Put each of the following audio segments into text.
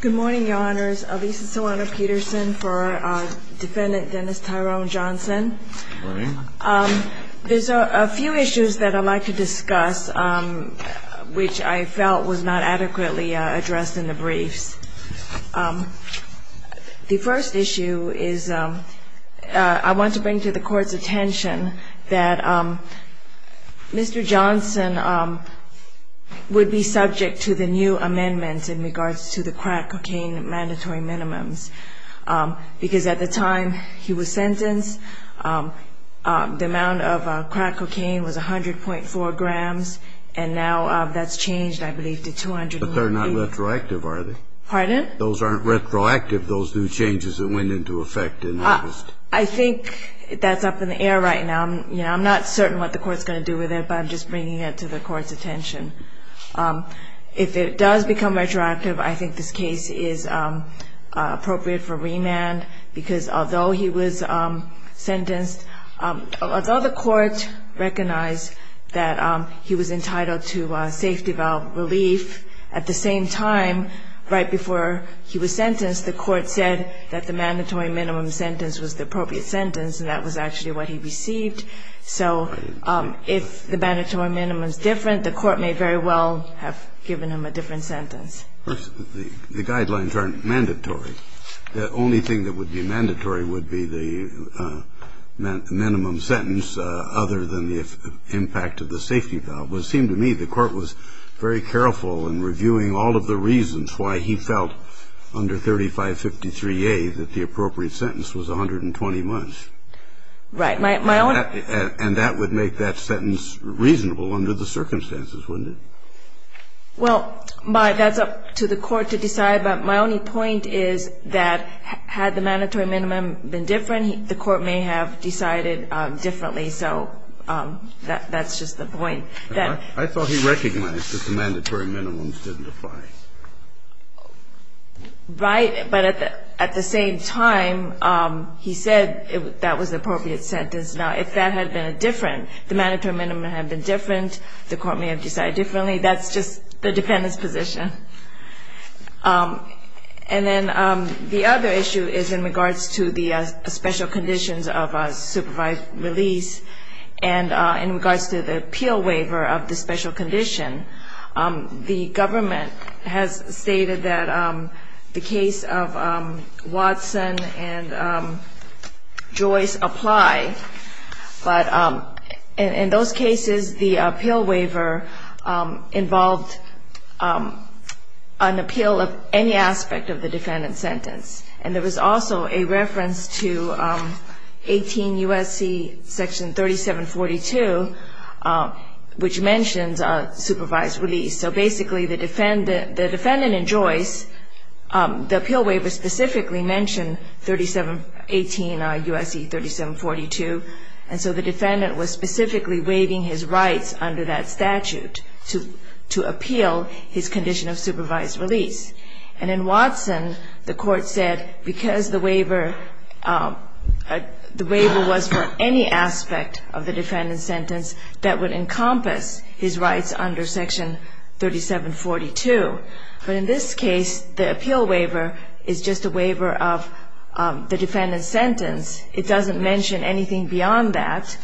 Good morning, Your Honors. Lisa Solano-Peterson for Defendant Dennis Tyrone Johnson. There's a few issues that I'd like to discuss, which I felt was not adequately addressed in the briefs. The first issue is I want to bring to the Court's attention that Mr. Johnson would be subject to the new amendments in regards to the crack cocaine mandatory minimums. Because at the time he was sentenced, the amount of crack cocaine was 100.4 grams, and now that's changed, I believe, to 200. But they're not retroactive, are they? Pardon? Those aren't retroactive, those new changes that went into effect in August. I think that's up in the air right now. I'm not certain what the Court's going to do with it, but I'm just bringing it to the Court's attention. If it does become retroactive, I think this case is appropriate for remand, because although he was sentenced, although the Court recognized that he was entitled to safety valve relief, at the same time, right before he was sentenced, the Court said that the mandatory minimum sentence was the appropriate sentence, and that was actually what he received. So if the mandatory minimum is different, the Court may very well have given him a different sentence. The guidelines aren't mandatory. The only thing that would be mandatory would be the minimum sentence other than the impact of the safety valve. But it seemed to me the Court was very careful in reviewing all of the reasons why he felt under 3553A that the appropriate sentence was 120 months. Right. And that would make that sentence reasonable under the circumstances, wouldn't it? Well, that's up to the Court to decide. But my only point is that had the mandatory minimum been different, the Court may have decided differently. So that's just the point. I thought he recognized that the mandatory minimum didn't apply. Right. But at the same time, he said that was the appropriate sentence. Now, if that had been different, the mandatory minimum had been different, the Court may have decided differently, that's just the defendant's position. And then the other issue is in regards to the special conditions of supervised release, and in regards to the appeal waiver of the special condition. The government has stated that the case of Watson and Joyce apply, but in those cases the appeal waiver involved an appeal of any aspect of the defendant's sentence. And there was also a reference to 18 U.S.C. Section 3742, which mentions supervised release. So basically, the defendant in Joyce, the appeal waiver specifically mentioned 3718 U.S.C. 3742, and so the defendant was specifically waiving his rights under that statute to appeal his condition of supervised release. And in Watson, the Court said because the waiver was for any aspect of the defendant's sentence, that would encompass his rights under Section 3742. But in this case, the appeal waiver is just a waiver of the defendant's sentence. It doesn't mention anything beyond that.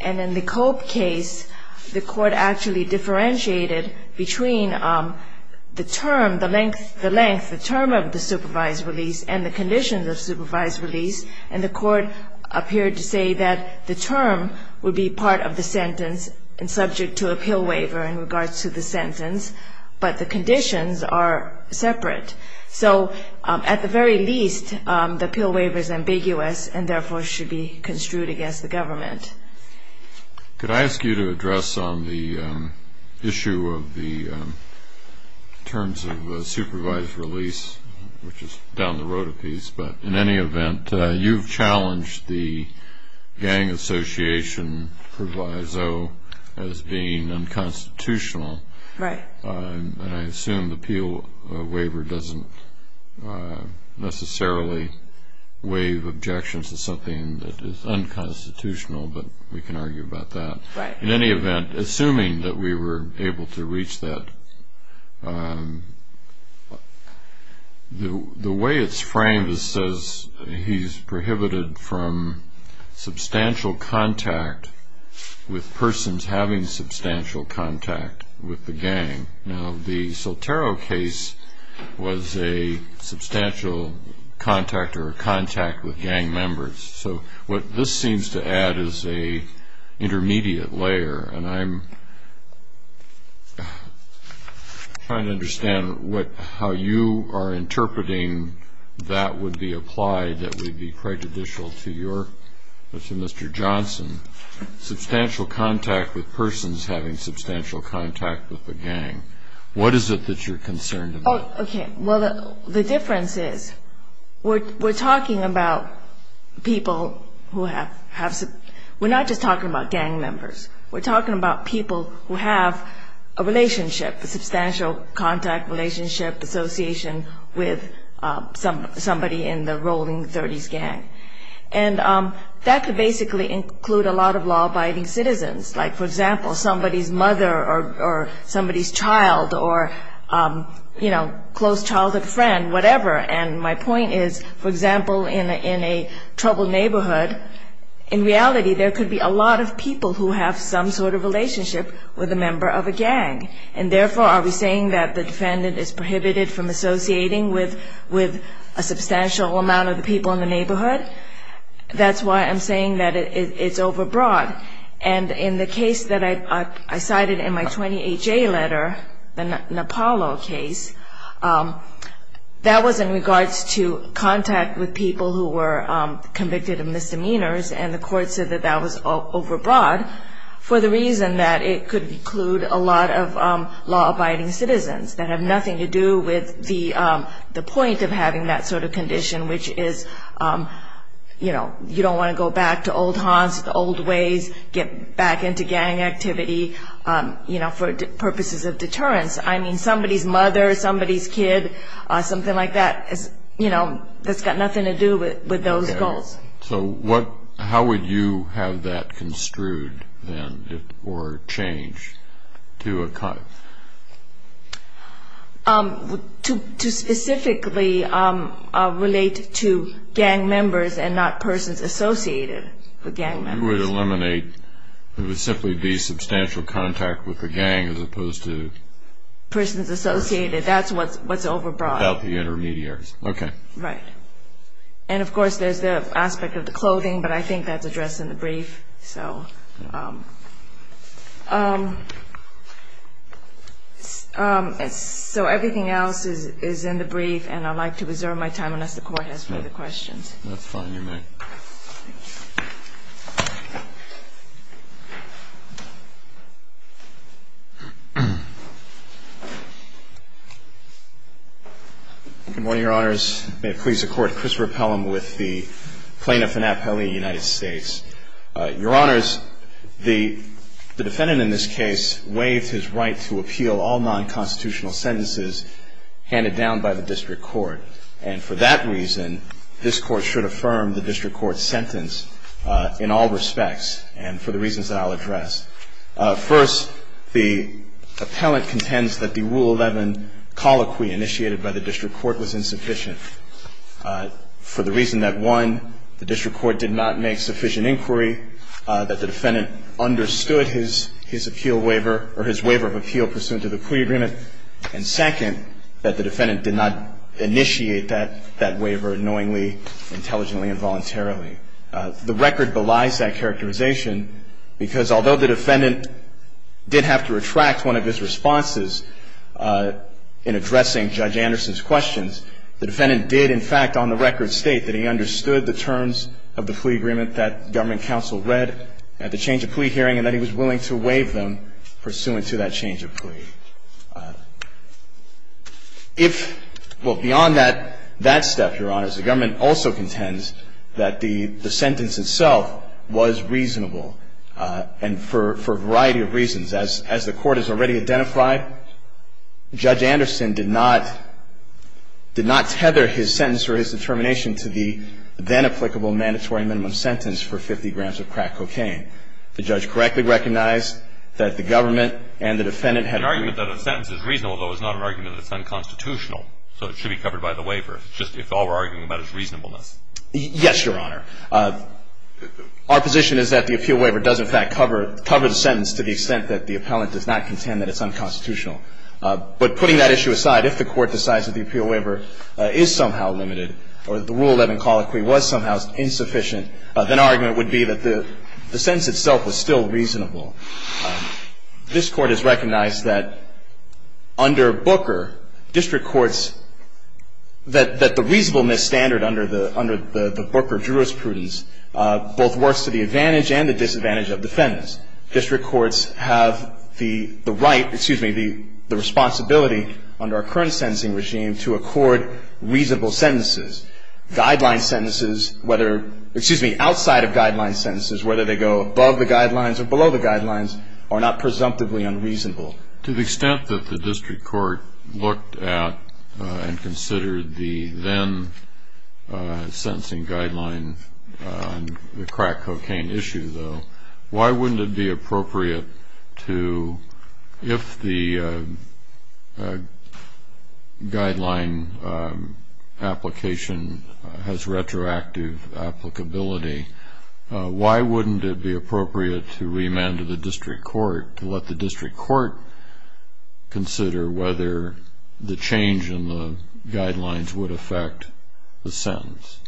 And in the Cope case, the Court actually differentiated between the term, the length, the term of the supervised release and the conditions of supervised release, and the Court appeared to say that the term would be part of the sentence and subject to appeal waiver in regards to the sentence, but the conditions are separate. So at the very least, the appeal waiver is ambiguous and therefore should be construed against the government. Could I ask you to address on the issue of the terms of supervised release, which is down the road a piece, but in any event, you've challenged the gang association proviso as being unconstitutional. Right. And I assume the appeal waiver doesn't necessarily waive objections to something that is unconstitutional, but we can argue about that. Right. In any event, assuming that we were able to reach that, the way it's framed says he's prohibited from substantial contact with persons having substantial contact with the gang. Now, the Sotero case was a substantial contact or a contact with gang members. So what this seems to add is an intermediate layer, and I'm trying to understand how you are interpreting that would be applied, that would be prejudicial to Mr. Johnson, substantial contact with persons having substantial contact with the gang. What is it that you're concerned about? Okay. Well, the difference is we're talking about people who have – we're not just talking about gang members. We're talking about people who have a relationship, a substantial contact relationship, association with somebody in the rolling 30s gang. And that could basically include a lot of law-abiding citizens, like, for example, somebody's mother or somebody's child or, you know, close childhood friend, whatever. And my point is, for example, in a troubled neighborhood, in reality there could be a lot of people who have some sort of relationship with a member of a gang. And therefore, are we saying that the defendant is prohibited from associating with a substantial amount of the people in the neighborhood? That's why I'm saying that it's overbroad. And in the case that I cited in my 20HA letter, the Napalo case, that was in regards to contact with people who were convicted of misdemeanors, and the court said that that was overbroad for the reason that it could include a lot of law-abiding citizens that have nothing to do with the point of having that sort of condition, which is, you know, you don't want to go back to old haunts, the old ways, get back into gang activity, you know, for purposes of deterrence. I mean, somebody's mother, somebody's kid, something like that, you know, that's got nothing to do with those goals. So how would you have that construed, then, or changed to a cut? To specifically relate to gang members and not persons associated with gang members. You would eliminate, it would simply be substantial contact with the gang as opposed to persons associated. That's what's overbroad. Without the intermediaries. Okay. Right. And, of course, there's the aspect of the clothing, but I think that's addressed in the brief. So everything else is in the brief, and I'd like to reserve my time unless the Court has further questions. That's fine. You may. Good morning, Your Honors. May it please the Court. Chris Rappellum with the plaintiff in Appalachia, United States. Your Honors, the defendant in this case waived his right to appeal all nonconstitutional sentences handed down by the district court. And for that reason, this Court should affirm the district court's sentence in all respects and for the reasons that I'll address. First, the appellant contends that the Rule 11 colloquy initiated by the district court was insufficient for the reason that, one, the district court did not make sufficient inquiry, that the defendant understood his appeal waiver or his waiver of appeal pursuant to the plea agreement, and, second, that the defendant did not initiate that waiver knowingly, intelligently, and voluntarily. The record belies that characterization because although the defendant did have to retract one of his responses in addressing Judge Anderson's questions, the defendant did, in fact, on the record, state that he understood the terms of the plea agreement that government counsel read at the change of plea hearing and that he was willing to waive them pursuant to that change of plea. If, well, beyond that step, Your Honors, the government also contends that the sentence itself was reasonable and for a variety of reasons. As the Court has already identified, Judge Anderson did not tether his sentence or his determination to the then-applicable mandatory minimum sentence for 50 grams of crack cocaine. The judge correctly recognized that the government and the defendant had agreed. An argument that a sentence is reasonable, though, is not an argument that it's unconstitutional, so it should be covered by the waiver, if all we're arguing about is reasonableness. Yes, Your Honor. Our position is that the appeal waiver does, in fact, cover the sentence to the extent that the appellant does not contend that it's unconstitutional. But putting that issue aside, if the Court decides that the appeal waiver is somehow limited or that the Rule 11 colloquy was somehow insufficient, then our argument would be that the sentence itself was still reasonable. This Court has recognized that under Booker, district courts, that the reasonableness standard under the Booker jurisprudence both works to the advantage and the disadvantage of defendants. District courts have the right, excuse me, the responsibility under our current sentencing regime to accord reasonable sentences. Guideline sentences, whether, excuse me, outside of guideline sentences, whether they go above the guidelines or below the guidelines, are not presumptively unreasonable. To the extent that the district court looked at and considered the then-sentencing guidelines on the crack cocaine issue, though, why wouldn't it be appropriate to, if the guideline application has retroactive applicability, why wouldn't it be appropriate to remand to the district court, to let the district court consider whether the change in the guidelines would affect the sentence?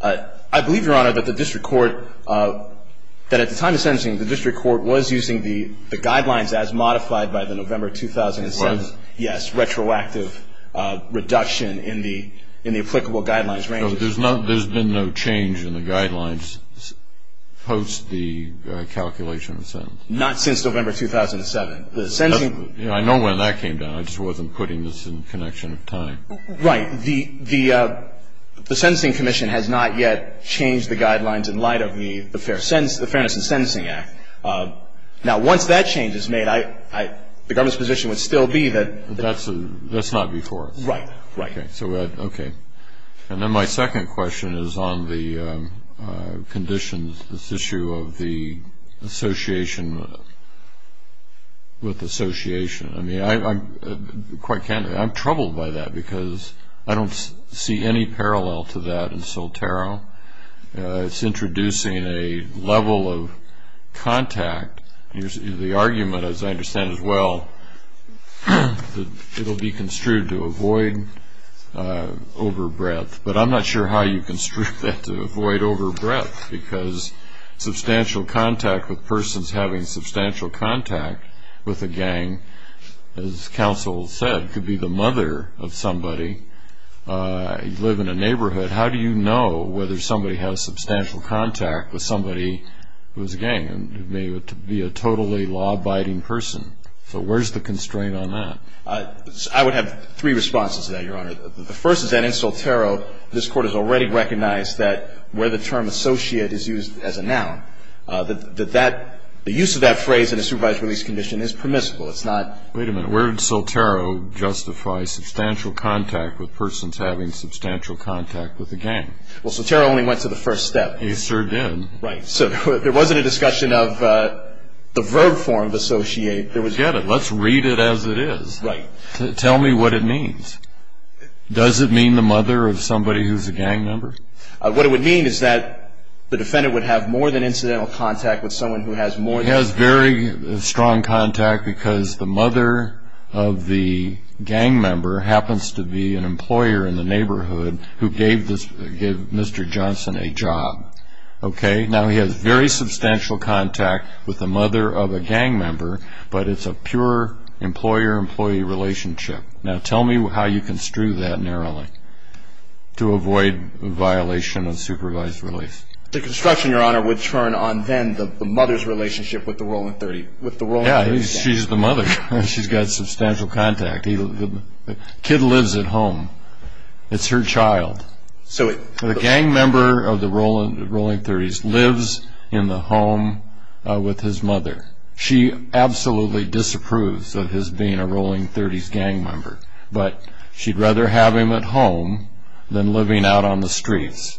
I believe, Your Honor, that the district court, that at the time of sentencing, the district court was using the guidelines as modified by the November 2007. It was? Yes, retroactive reduction in the applicable guidelines range. There's been no change in the guidelines post the calculation of the sentence? Not since November 2007. I know when that came down. I just wasn't putting this in connection with time. Right. The Sentencing Commission has not yet changed the guidelines in light of the Fairness in Sentencing Act. Now, once that change is made, the government's position would still be that. That's not before us. Right. Right. Okay. So, okay. And then my second question is on the conditions, this issue of the association with association. I mean, quite candidly, I'm troubled by that because I don't see any parallel to that in Soltero. It's introducing a level of contact. The argument, as I understand it well, that it will be construed to avoid over-breath, but I'm not sure how you construe that to avoid over-breath, because substantial contact with persons having substantial contact with a gang, as counsel said, could be the mother of somebody. You live in a neighborhood. How do you know whether somebody has substantial contact with somebody who is a gang and may be a totally law-abiding person? So where's the constraint on that? I would have three responses to that, Your Honor. The first is that in Soltero, this Court has already recognized that where the term associate is used as a noun, that that, the use of that phrase in a supervised release condition is permissible. It's not. Wait a minute. Where did Soltero justify substantial contact with persons having substantial contact with a gang? Well, Soltero only went to the first step. Yes, sir, it did. Right. So there wasn't a discussion of the verb form of associate. Forget it. Let's read it as it is. Right. Tell me what it means. Does it mean the mother of somebody who's a gang member? What it would mean is that the defendant would have more than incidental contact with someone who has more than incidental contact. He has very strong contact because the mother of the gang member happens to be an employer in the neighborhood who gave Mr. Johnson a job. Okay. Now, he has very substantial contact with the mother of a gang member, but it's a pure employer-employee relationship. Now, tell me how you construe that narrowly to avoid violation of supervised release. The construction, Your Honor, would turn on then the mother's relationship with the Roland 30, with the Roland 30 gang. Yeah, she's the mother. She's got substantial contact. The kid lives at home. It's her child. The gang member of the Roland 30s lives in the home with his mother. She absolutely disapproves of his being a Roland 30s gang member, but she'd rather have him at home than living out on the streets,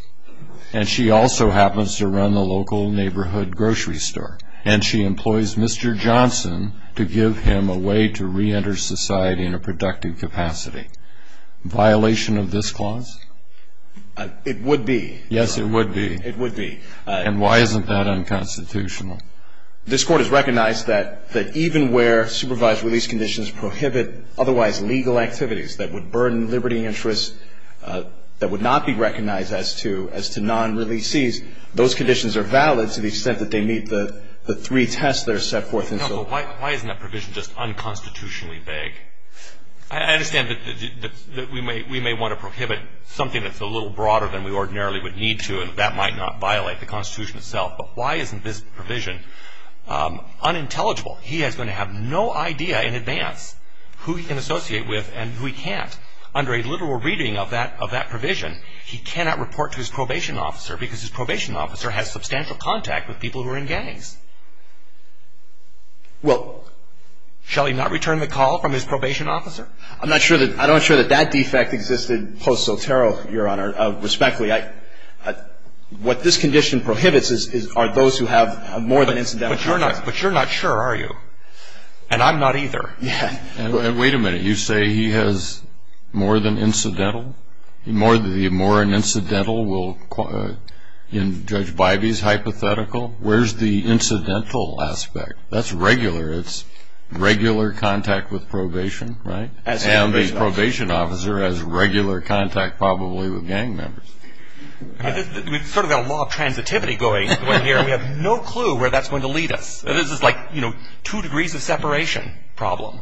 and she also happens to run the local neighborhood grocery store, and she employs Mr. Johnson to give him a way to reenter society in a productive capacity. Violation of this clause? It would be. Yes, it would be. It would be. And why isn't that unconstitutional? This Court has recognized that even where supervised release conditions prohibit otherwise legal activities that would burden liberty interests that would not be recognized as to non-releasees, those conditions are valid to the extent that they meet the three tests that are set forth in the law. No, but why isn't that provision just unconstitutionally vague? I understand that we may want to prohibit something that's a little broader than we ordinarily would need to, and that might not violate the Constitution itself, but why isn't this provision unintelligible? He is going to have no idea in advance who he can associate with and who he can't. Under a literal reading of that provision, he cannot report to his probation officer because his probation officer has substantial contact with people who are in gangs. Well, shall he not return the call from his probation officer? I'm not sure that that defect existed post-Sotero, Your Honor, respectfully. What this condition prohibits are those who have more than incidental contact. But you're not sure, are you? And I'm not either. Wait a minute. You say he has more than incidental? The more than incidental will, in Judge Bybee's hypothetical, where's the incidental aspect? That's regular. It's regular contact with probation, right? And the probation officer has regular contact probably with gang members. We've sort of got a law of transitivity going on here. We have no clue where that's going to lead us. This is like, you know, two degrees of separation problem.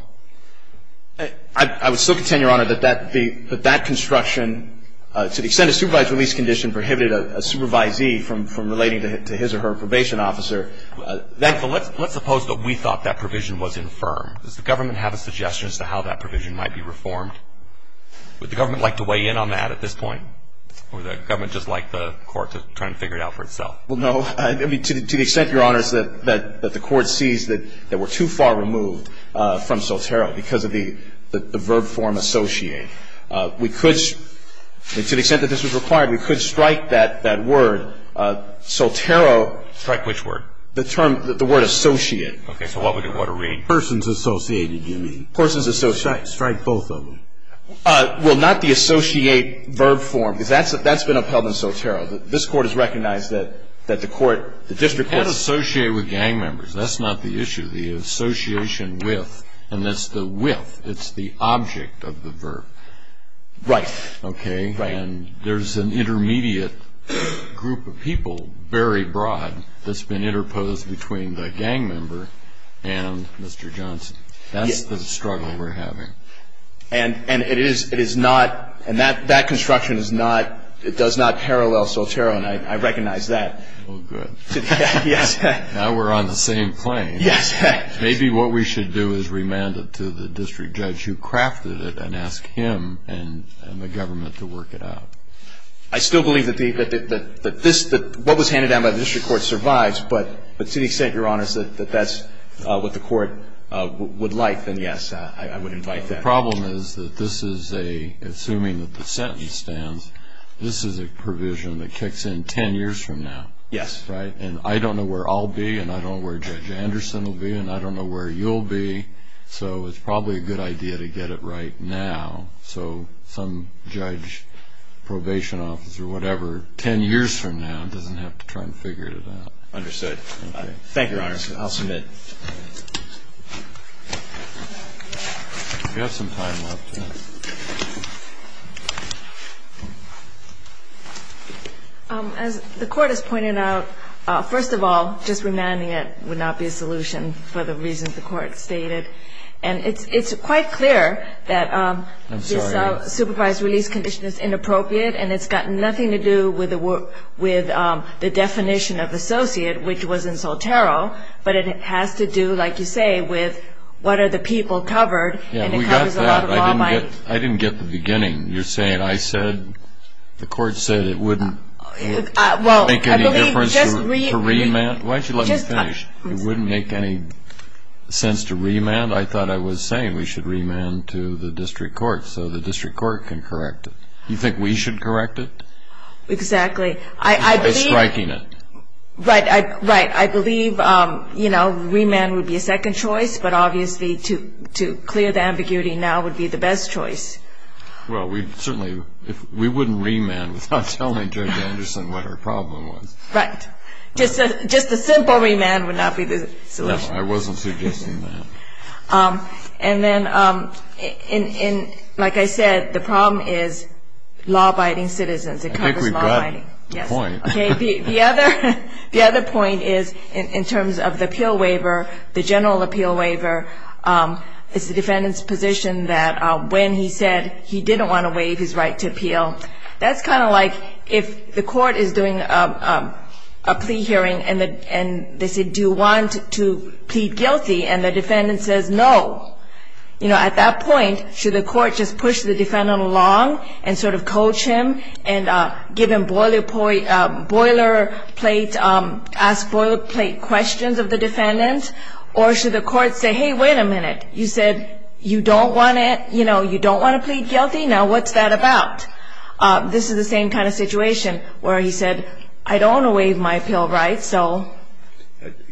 I would still contend, Your Honor, that that construction, to the extent a supervised release condition prohibited a supervisee from relating to his or her probation officer. Let's suppose that we thought that provision was infirm. Does the government have a suggestion as to how that provision might be reformed? Would the government like to weigh in on that at this point? Or would the government just like the court to try and figure it out for itself? Well, no. To the extent, Your Honor, that the court sees that we're too far removed from Sotero because of the verb form associate, we could, to the extent that this was required, we could strike that word, Sotero. Strike which word? The term, the word associate. Okay. So what would it want to read? Persons associated, you mean. Persons associated. Strike both of them. Well, not the associate verb form because that's been upheld in Sotero. This Court has recognized that the court, the district court. You can't associate with gang members. That's not the issue. The association with, and that's the with. It's the object of the verb. Right. Okay. And there's an intermediate group of people, very broad, that's been interposed between the gang member and Mr. Johnson. That's the struggle we're having. And it is not, and that construction is not, it does not parallel Sotero, and I recognize that. Well, good. Yes. Now we're on the same plane. Yes. Maybe what we should do is remand it to the district judge who crafted it and ask him and the government to work it out. I still believe that this, that what was handed down by the district court survives, but to the extent, Your Honors, that that's what the court would like, then yes, I would invite that. The problem is that this is a, assuming that the sentence stands, this is a provision that kicks in ten years from now. Yes. Right? And I don't know where I'll be and I don't know where Judge Anderson will be and I don't know where you'll be, so it's probably a good idea to get it right now so some judge, probation officer, whatever, ten years from now doesn't have to try and figure it out. Understood. Okay. Thank you, Your Honors. I'll submit. We have some time left. As the court has pointed out, first of all, just remanding it would not be a solution for the reasons the court stated. And it's quite clear that this supervised release condition is inappropriate and it's got nothing to do with the definition of associate, which was in Soltero, but it has to do, like you say, with what are the people covered. Yeah, we got that. I didn't get the beginning. You're saying I said, the court said it wouldn't make any difference to remand? Why don't you let me finish? It wouldn't make any sense to remand? I thought I was saying we should remand to the district court so the district court can correct it. You think we should correct it? Exactly. By striking it. Right. I believe, you know, remand would be a second choice, but obviously to clear the ambiguity now would be the best choice. Well, we certainly wouldn't remand without telling Judge Anderson what our problem was. Right. Just a simple remand would not be the solution. No, I wasn't suggesting that. And then, like I said, the problem is law-abiding citizens. I think we've gotten the point. Okay. The other point is, in terms of the appeal waiver, the general appeal waiver, it's the defendant's position that when he said he didn't want to waive his right to appeal, that's kind of like if the court is doing a plea hearing and they say, do you want to plead guilty, and the defendant says no. You know, at that point, should the court just push the defendant along and sort of coach him and give him boilerplate, ask boilerplate questions of the defendant, or should the court say, hey, wait a minute, you said you don't want to, you know, you don't want to plead guilty, now what's that about? This is the same kind of situation where he said, I don't want to waive my appeal right, so.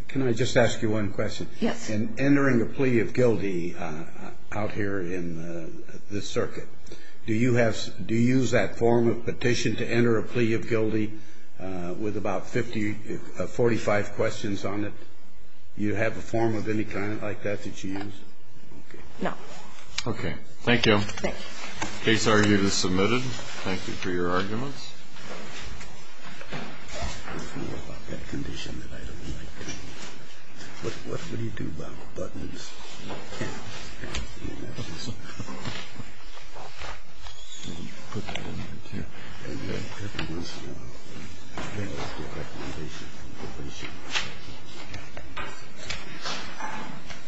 Can I just ask you one question? Yes. In entering a plea of guilty out here in this circuit, do you have to use that form of petition to enter a plea of guilty with about 50, 45 questions on it? Do you have a form of any kind like that that you use? No. Okay. Thank you. Case argument is submitted. Thank you for your arguments. There's more about that condition that I don't like. What do you do about buttons and cameras and everything else? I don't know. You put that in there, too. Yeah. And then everyone's here. Yeah. Everyone's here. Everybody's here.